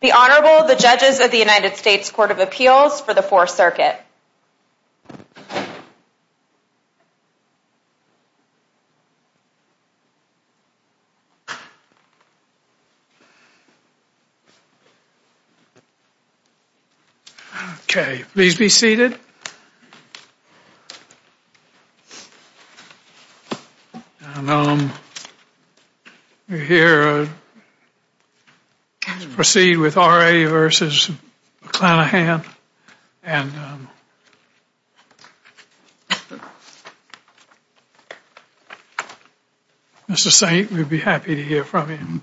The Honorable, the Judges of the United States Court of Appeals for the Fourth Circuit. Okay, please be seated. We're here to proceed with R.A. v. McClenahan, and Mr. St. we'd be happy to hear from you.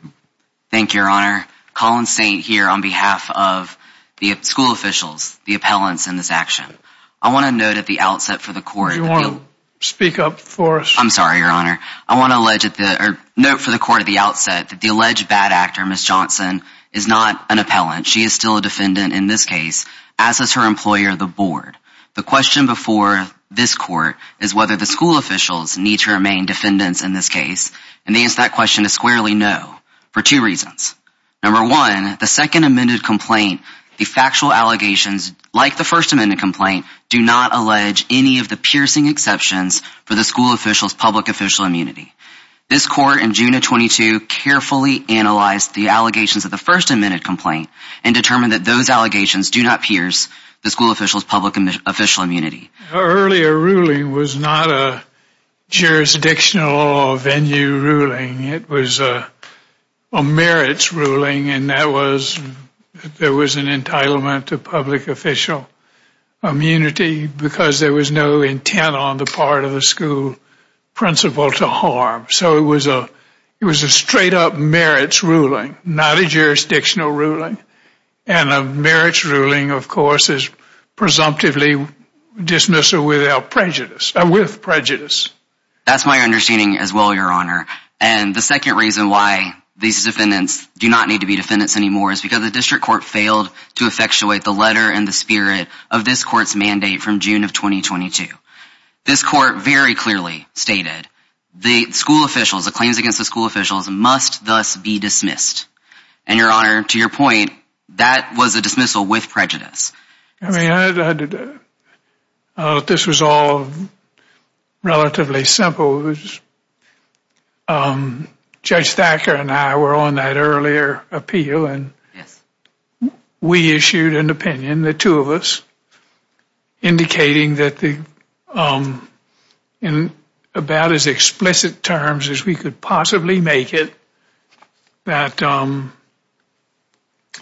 Thank you, Your Honor. Colin St. here on behalf of the school officials, the appellants in this action. I want to note at the outset for the court... Do you want to speak up for us? I'm sorry, Your Honor. I want to note for the court at the outset that the alleged bad actor, Ms. Johnson, is not an appellant. She is still a defendant in this case, as is her employer, the board. The question before this court is whether the school officials need to remain defendants in this case. And the answer to that question is squarely no, for two reasons. Number one, the second amended complaint, the factual allegations, like the first amended complaint, do not allege any of the piercing exceptions for the school officials' public official immunity. This court in June of 22 carefully analyzed the allegations of the first amended complaint and determined that those allegations do not pierce the school officials' public official immunity. Her earlier ruling was not a jurisdictional or venue ruling. It was a merits ruling, and that was that there was an entitlement to public official immunity because there was no intent on the part of the school principal to harm. So it was a straight-up merits ruling, not a jurisdictional ruling. And a merits ruling, of course, is presumptively dismissal with prejudice. That's my understanding as well, Your Honor. And the second reason why these defendants do not need to be defendants anymore is because the district court failed to effectuate the letter and the spirit of this court's mandate from June of 2022. This court very clearly stated the school officials, the claims against the school officials, must thus be dismissed. And, Your Honor, to your point, that was a dismissal with prejudice. I mean, this was all relatively simple. Judge Thacker and I were on that earlier appeal, and we issued an opinion, the two of us, indicating that in about as explicit terms as we could possibly make it, that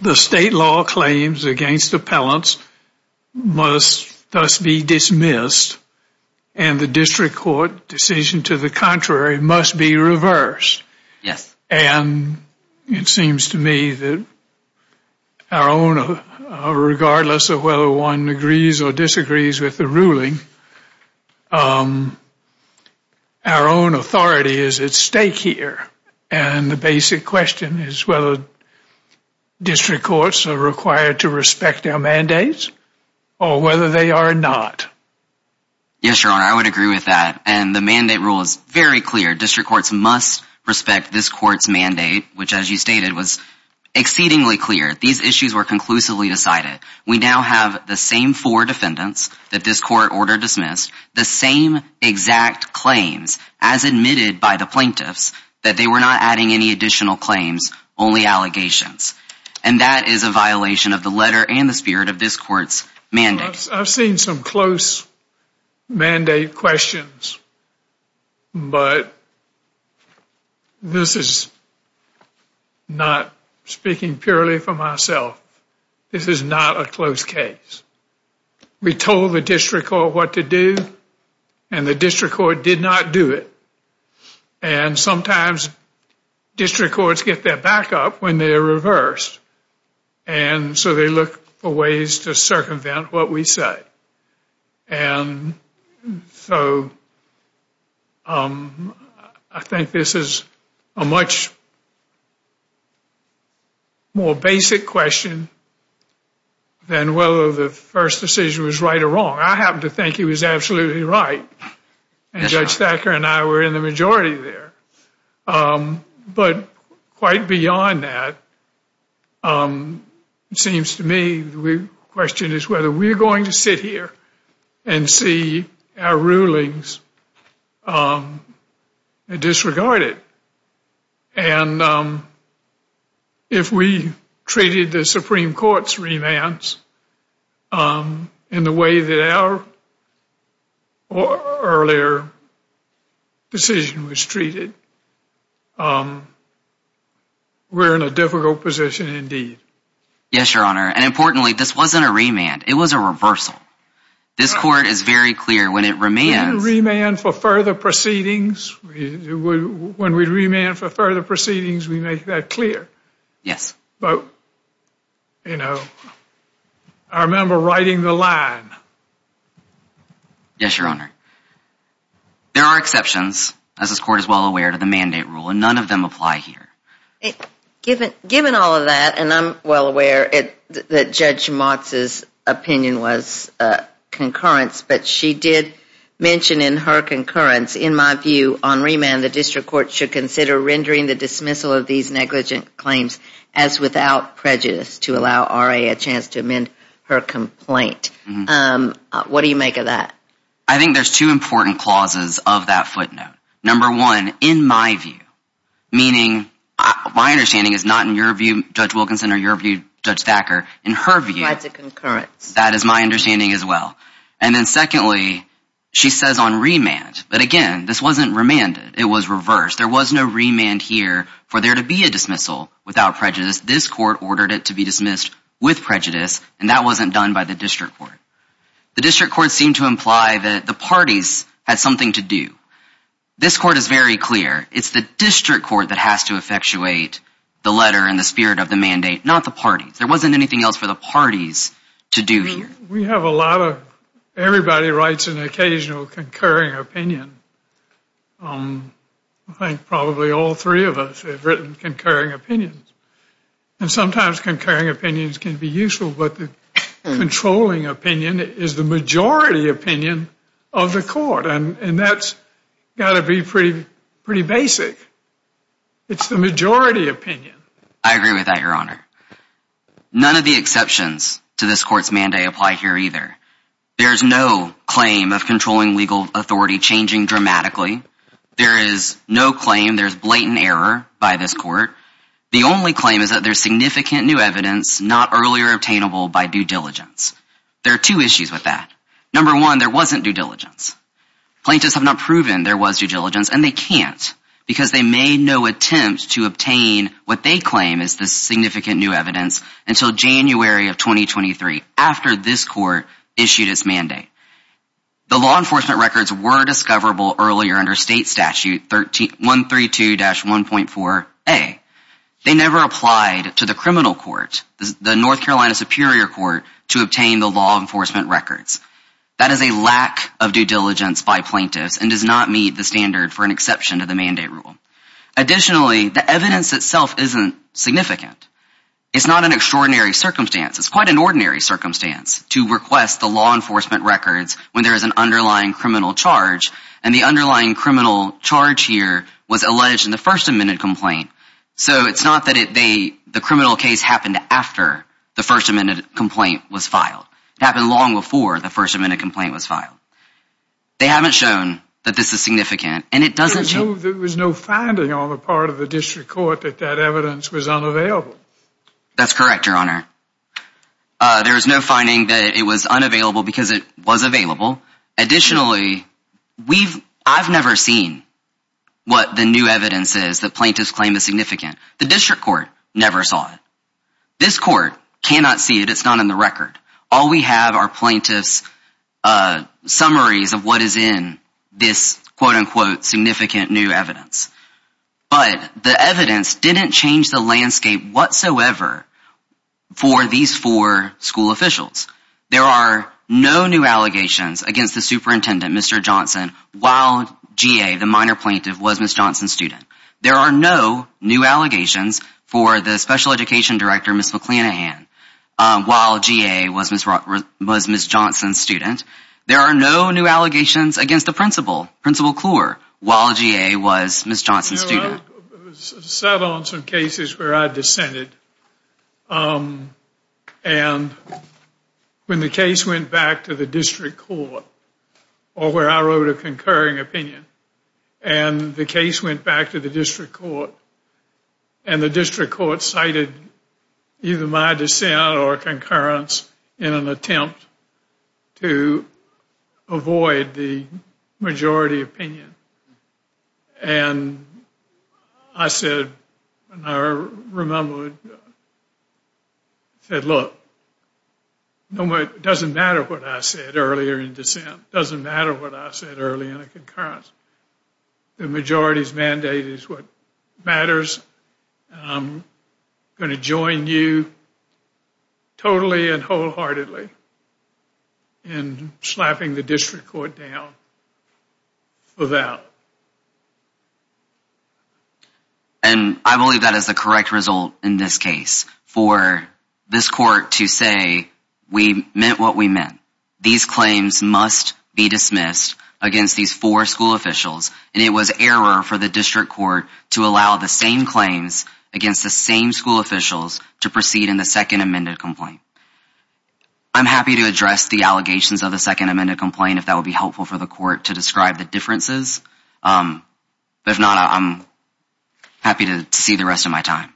the state law claims against appellants must thus be dismissed, and the district court decision to the contrary must be reversed. And it seems to me that regardless of whether one agrees or disagrees with the ruling, our own authority is at stake here. And the basic question is whether district courts are required to respect our mandates or whether they are not. Yes, Your Honor, I would agree with that. And the mandate rule is very clear. District courts must respect this court's mandate, which, as you stated, was exceedingly clear. These issues were conclusively decided. We now have the same four defendants that this court ordered dismissed, the same exact claims as admitted by the plaintiffs that they were not adding any additional claims, only allegations. And that is a violation of the letter and the spirit of this court's mandate. I've seen some close mandate questions, but this is not speaking purely for myself. This is not a close case. We told the district court what to do, and the district court did not do it. And sometimes district courts get their back up when they're reversed. And so they look for ways to circumvent what we say. And so I think this is a much more basic question than whether the first decision was right or wrong. I happen to think he was absolutely right, and Judge Thacker and I were in the majority there. But quite beyond that, it seems to me the question is whether we're going to sit here and see our rulings disregarded. And if we treated the Supreme Court's remands in the way that our earlier decision was treated, we're in a difficult position indeed. Yes, Your Honor. And importantly, this wasn't a remand. It was a reversal. This court is very clear when it remands... When we remand for further proceedings, we make that clear. Yes. But, you know, I remember writing the line. Yes, Your Honor. There are exceptions, as this court is well aware, to the mandate rule, and none of them apply here. Given all of that, and I'm well aware that Judge Motz's opinion was concurrence, but she did mention in her concurrence, in my view, on remand, the district court should consider rendering the dismissal of these negligent claims as without prejudice to allow RA a chance to amend her complaint. What do you make of that? I think there's two important clauses of that footnote. Number one, in my view, meaning my understanding is not in your view, Judge Wilkinson, or your view, Judge Thacker. In her view, that is my understanding as well. And then secondly, she says on remand, but again, this wasn't remanded. It was reversed. There was no remand here for there to be a dismissal without prejudice. This court ordered it to be dismissed with prejudice, and that wasn't done by the district court. The district court seemed to imply that the parties had something to do. This court is very clear. It's the district court that has to effectuate the letter and the spirit of the mandate, not the parties. There wasn't anything else for the parties to do here. We have a lot of, everybody writes an occasional concurring opinion. I think probably all three of us have written concurring opinions. And sometimes concurring opinions can be useful, but the controlling opinion is the majority opinion of the court. And that's got to be pretty basic. It's the majority opinion. I agree with that, Your Honor. None of the exceptions to this court's mandate apply here either. There's no claim of controlling legal authority changing dramatically. There is no claim there's blatant error by this court. The only claim is that there's significant new evidence not earlier obtainable by due diligence. There are two issues with that. Number one, there wasn't due diligence. Plaintiffs have not proven there was due diligence, and they can't, because they made no attempt to obtain what they claim is the significant new evidence until January of 2023, after this court issued its mandate. The law enforcement records were discoverable earlier under state statute 132-1.4a. They never applied to the criminal court, the North Carolina Superior Court, to obtain the law enforcement records. That is a lack of due diligence by plaintiffs and does not meet the standard for an exception to the mandate rule. Additionally, the evidence itself isn't significant. It's not an extraordinary circumstance. It's quite an ordinary circumstance to request the law enforcement records when there is an underlying criminal charge. And the underlying criminal charge here was alleged in the First Amendment complaint. So it's not that the criminal case happened after the First Amendment complaint was filed. It happened long before the First Amendment complaint was filed. They haven't shown that this is significant, and it doesn't show... There was no finding on the part of the district court that that evidence was unavailable. That's correct, Your Honor. There was no finding that it was unavailable because it was available. Additionally, I've never seen what the new evidence is that plaintiffs claim is significant. The district court never saw it. This court cannot see it. It's not in the record. All we have are plaintiffs' summaries of what is in this, quote-unquote, significant new evidence. But the evidence didn't change the landscape whatsoever for these four school officials. There are no new allegations against the superintendent, Mr. Johnson, while G.A., the minor plaintiff, was Ms. Johnson's student. There are no new allegations for the special education director, Ms. McCleanahan, while G.A. was Ms. Johnson's student. There are no new allegations against the principal, Principal Kluwer, while G.A. was Ms. Johnson's student. I sat on some cases where I dissented. And when the case went back to the district court, or where I wrote a concurring opinion, and the case went back to the district court, and the district court cited either my dissent or concurrence in an attempt to avoid the majority opinion. And I said, I remember, I said, look, it doesn't matter what I said earlier in dissent. It doesn't matter what I said earlier in a concurrence. The majority's mandate is what matters. I'm going to join you totally and wholeheartedly in slapping the district court down for that. And I believe that is the correct result in this case, for this court to say, we meant what we meant. These claims must be dismissed against these four school officials. And it was error for the district court to allow the same claims against the same school officials to proceed in the second amended complaint. I'm happy to address the allegations of the second amended complaint, if that would be helpful for the court to describe the differences. But if not, I'm happy to see the rest of my time.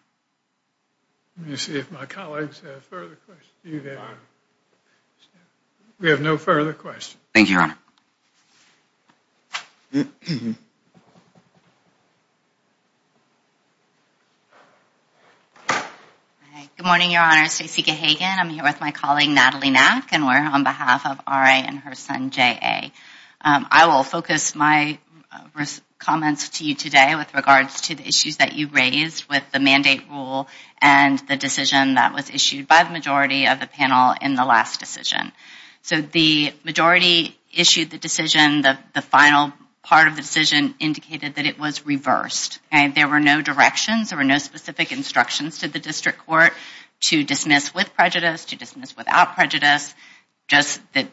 Let me see if my colleagues have further questions. We have no further questions. Thank you, Your Honor. Good morning, Your Honor. Stacey Gahagan. I'm here with my colleague, Natalie Mack, and we're on behalf of R.A. and her son, J.A. I will focus my comments to you today with regards to the issues that you raised with the mandate rule and the decision that was issued by the majority of the panel in the last decision. So the majority issued the decision. The final part of the decision indicated that it was reversed. There were no directions. There were no specific instructions to the district court to dismiss with prejudice, to dismiss without prejudice. Just that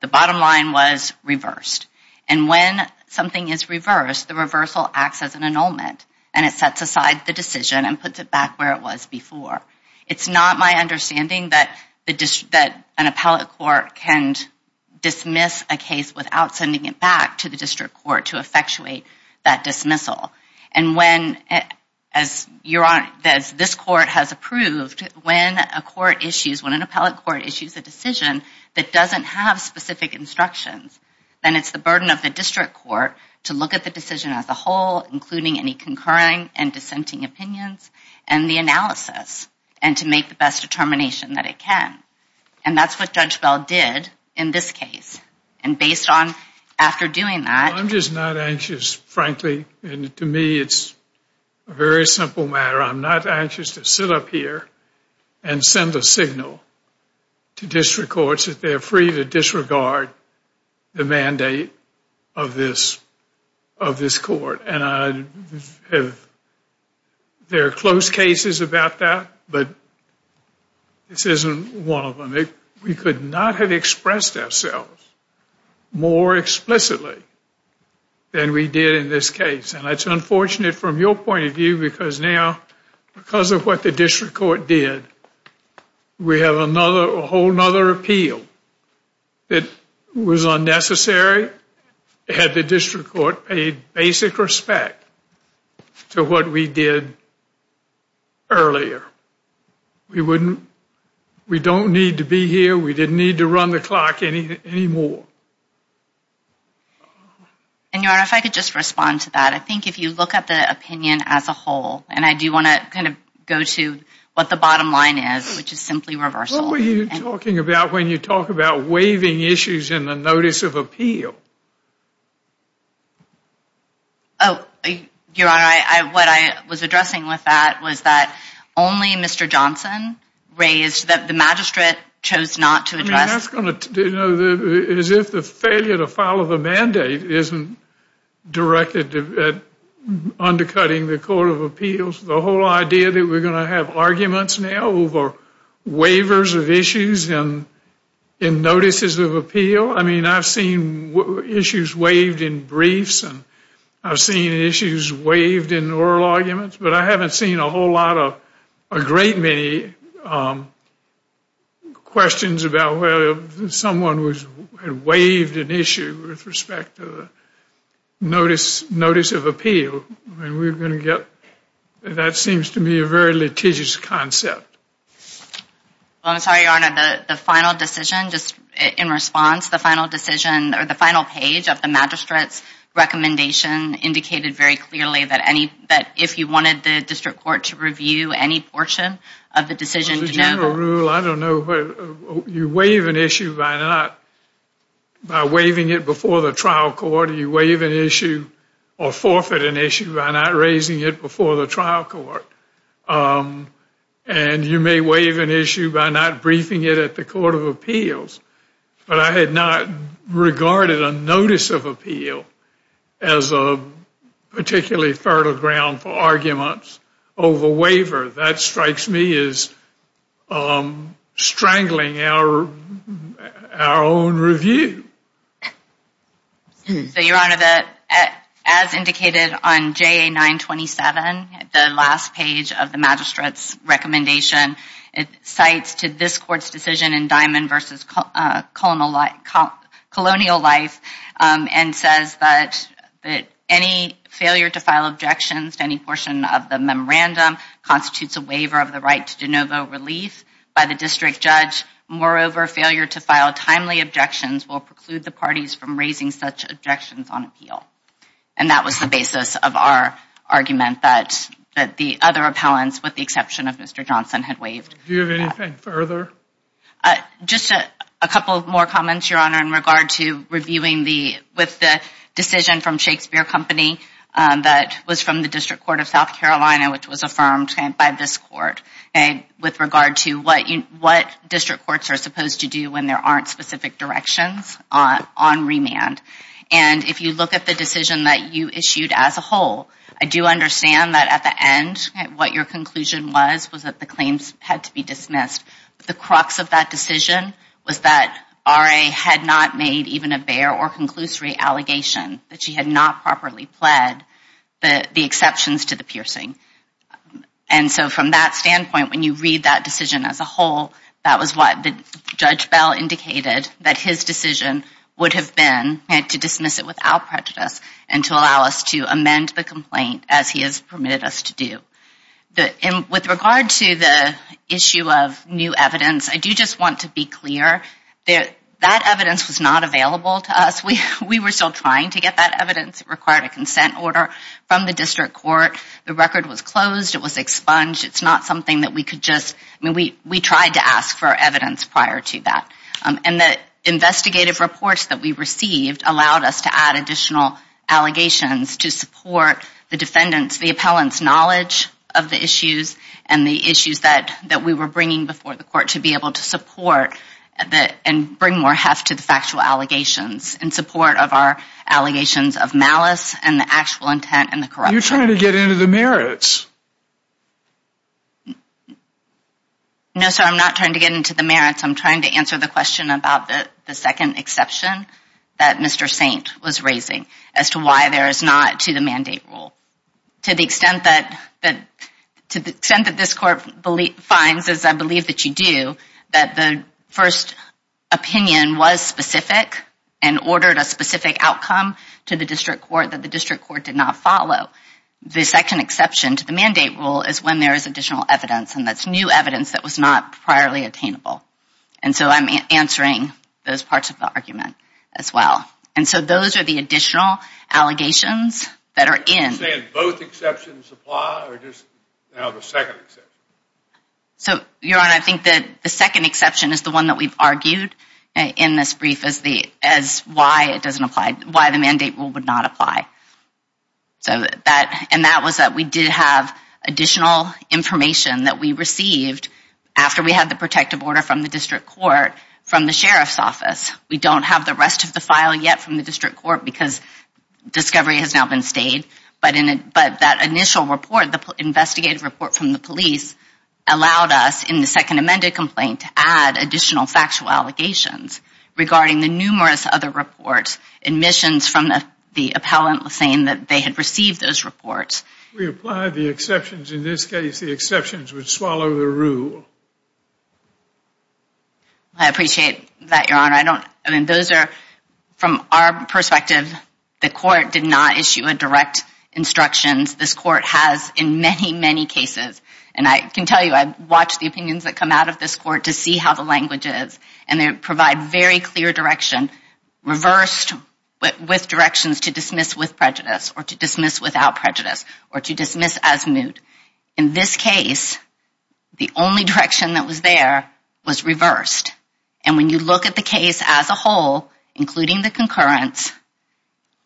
the bottom line was reversed. And when something is reversed, the reversal acts as an annulment, and it sets aside the decision and puts it back where it was before. It's not my understanding that an appellate court can dismiss a case without sending it back to the district court to effectuate that dismissal. And when, as this court has approved, when a court issues, when an appellate court issues a decision that doesn't have specific instructions, then it's the burden of the district court to look at the decision as a whole, including any concurring and dissenting opinions, and the analysis, and to make the best determination that it can. And that's what Judge Bell did in this case. And based on after doing that... I'm just not anxious, frankly, and to me it's a very simple matter. I'm not anxious to sit up here and send a signal to district courts that they're free to disregard the mandate of this court. And there are close cases about that, but this isn't one of them. We could not have expressed ourselves more explicitly than we did in this case. And that's unfortunate from your point of view, because now because of what the district court did, we have a whole other appeal that was unnecessary had the district court paid basic respect to what we did earlier. We don't need to be here. We didn't need to run the clock anymore. And, Your Honor, if I could just respond to that. I think if you look at the opinion as a whole, and I do want to kind of go to what the bottom line is, which is simply reversal. What were you talking about when you talk about waiving issues in the notice of appeal? Oh, Your Honor, what I was addressing with that was that only Mr. Johnson raised that the magistrate chose not to address... That's going to, you know, as if the failure to follow the mandate isn't directed at undercutting the Court of Appeals. The whole idea that we're going to have arguments now over waivers of issues and notices of appeal, I mean, I've seen issues waived in briefs and I've seen issues waived in oral arguments, but I haven't seen a whole lot of, a great many questions about whether someone had waived an issue with respect to the notice of appeal. So, I mean, we're going to get... That seems to me a very litigious concept. Well, I'm sorry, Your Honor, the final decision, just in response, the final decision or the final page of the magistrate's recommendation indicated very clearly that if you wanted the district court to review any portion of the decision... Well, the general rule, I don't know... You waive an issue by not... By waiving it before the trial court, you waive an issue or forfeit an issue by not raising it before the trial court. And you may waive an issue by not briefing it at the Court of Appeals, but I had not regarded a notice of appeal as a particularly fertile ground for arguments over waiver. That strikes me as strangling our own review. So, Your Honor, as indicated on JA 927, the last page of the magistrate's recommendation, it cites to this court's decision in Diamond v. Colonial Life and says that any failure to file objections to any portion of the memorandum constitutes a waiver of the right to de novo relief by the district judge. Moreover, failure to file timely objections will preclude the parties from raising such objections on appeal. And that was the basis of our argument that the other appellants, with the exception of Mr. Johnson, had waived. Do you have anything further? Just a couple more comments, Your Honor, in regard to reviewing the... with the decision from Shakespeare Company that was from the District Court of South Carolina, which was affirmed by this court with regard to what district courts are supposed to do when there aren't specific directions on remand. And if you look at the decision that you issued as a whole, I do understand that at the end what your conclusion was was that the claims had to be dismissed. The crux of that decision was that RA had not made even a bare or conclusory allegation that she had not properly pled the exceptions to the piercing. And so from that standpoint, when you read that decision as a whole, that was what Judge Bell indicated that his decision would have been to dismiss it without prejudice and to allow us to amend the complaint as he has permitted us to do. With regard to the issue of new evidence, I do just want to be clear that that evidence was not available to us. We were still trying to get that evidence. It required a consent order from the district court. The record was closed. It was expunged. It's not something that we could just... I mean, we tried to ask for evidence prior to that. And the investigative reports that we received allowed us to add additional allegations to support the defendant's, the appellant's knowledge of the issues and the issues that we were bringing before the court to be able to support and bring more heft to the factual allegations in support of our allegations of malice and the actual intent and the corruption. You're trying to get into the merits. No, sir, I'm not trying to get into the merits. I'm trying to answer the question about the second exception that Mr. Saint was raising as to why there is not to the mandate rule. To the extent that this court finds, as I believe that you do, that the first opinion was specific and ordered a specific outcome to the district court that the district court did not follow, the second exception to the mandate rule is when there is additional evidence, and that's new evidence that was not priorly attainable. And so I'm answering those parts of the argument as well. And so those are the additional allegations that are in. Are you saying both exceptions apply or just now the second exception? So, Your Honor, I think that the second exception is the one that we've argued in this brief as the, as why it doesn't apply, why the mandate rule would not apply. So that, and that was that we did have additional information that we received after we had the protective order from the district court from the sheriff's office. We don't have the rest of the file yet from the district court because discovery has now been stayed. But that initial report, the investigative report from the police, allowed us in the second amended complaint to add additional factual allegations regarding the numerous other reports, admissions from the appellant saying that they had received those reports. We applied the exceptions. In this case, the exceptions would swallow the rule. I appreciate that, Your Honor. I don't, I mean, those are, from our perspective, the court did not issue a direct instructions. This court has in many, many cases, and I can tell you, I've watched the opinions that come out of this court to see how the language is. And they provide very clear direction, reversed with directions to dismiss with prejudice or to dismiss without prejudice or to dismiss as moot. In this case, the only direction that was there was reversed. And when you look at the case as a whole, including the concurrence,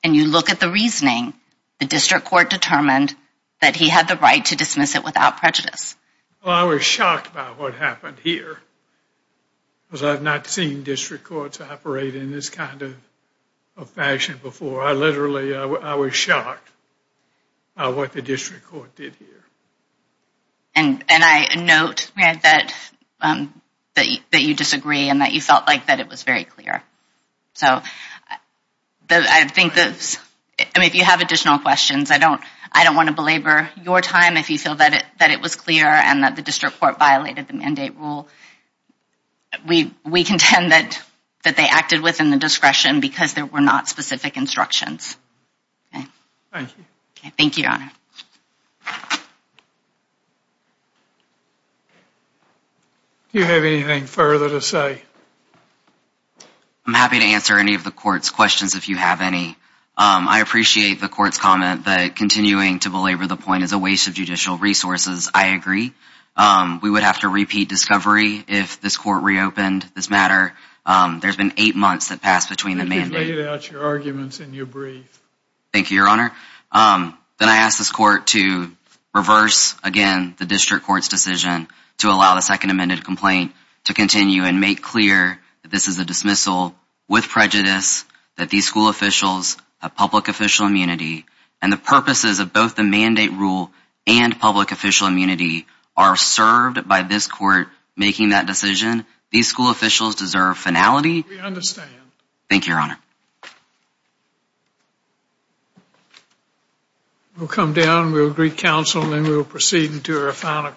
and you look at the reasoning, the district court determined that he had the right to dismiss it without prejudice. Well, I was shocked by what happened here. Because I've not seen district courts operate in this kind of fashion before. I literally, I was shocked by what the district court did here. And I note that you disagree and that you felt like that it was very clear. So I think that, I mean, if you have additional questions, I don't want to belabor your time if you feel that it was clear and that the district court violated the mandate rule. We contend that they acted within the discretion because there were not specific instructions. Thank you. Thank you, Your Honor. Do you have anything further to say? I'm happy to answer any of the court's questions if you have any. I appreciate the court's comment that continuing to belabor the point is a waste of judicial resources. I agree. We would have to repeat discovery if this court reopened this matter. There's been eight months that passed between the mandate. I think you've laid out your arguments in your brief. Thank you, Your Honor. Then I ask this court to reverse, again, the district court's decision to allow the second amended complaint to continue and make clear that this is a dismissal with prejudice, that these school officials have public official immunity, and the purposes of both the mandate rule and public official immunity are served by this court making that decision. These school officials deserve finality. We understand. Thank you, Your Honor. We'll come down. We'll agree counsel, and then we'll proceed to our final case.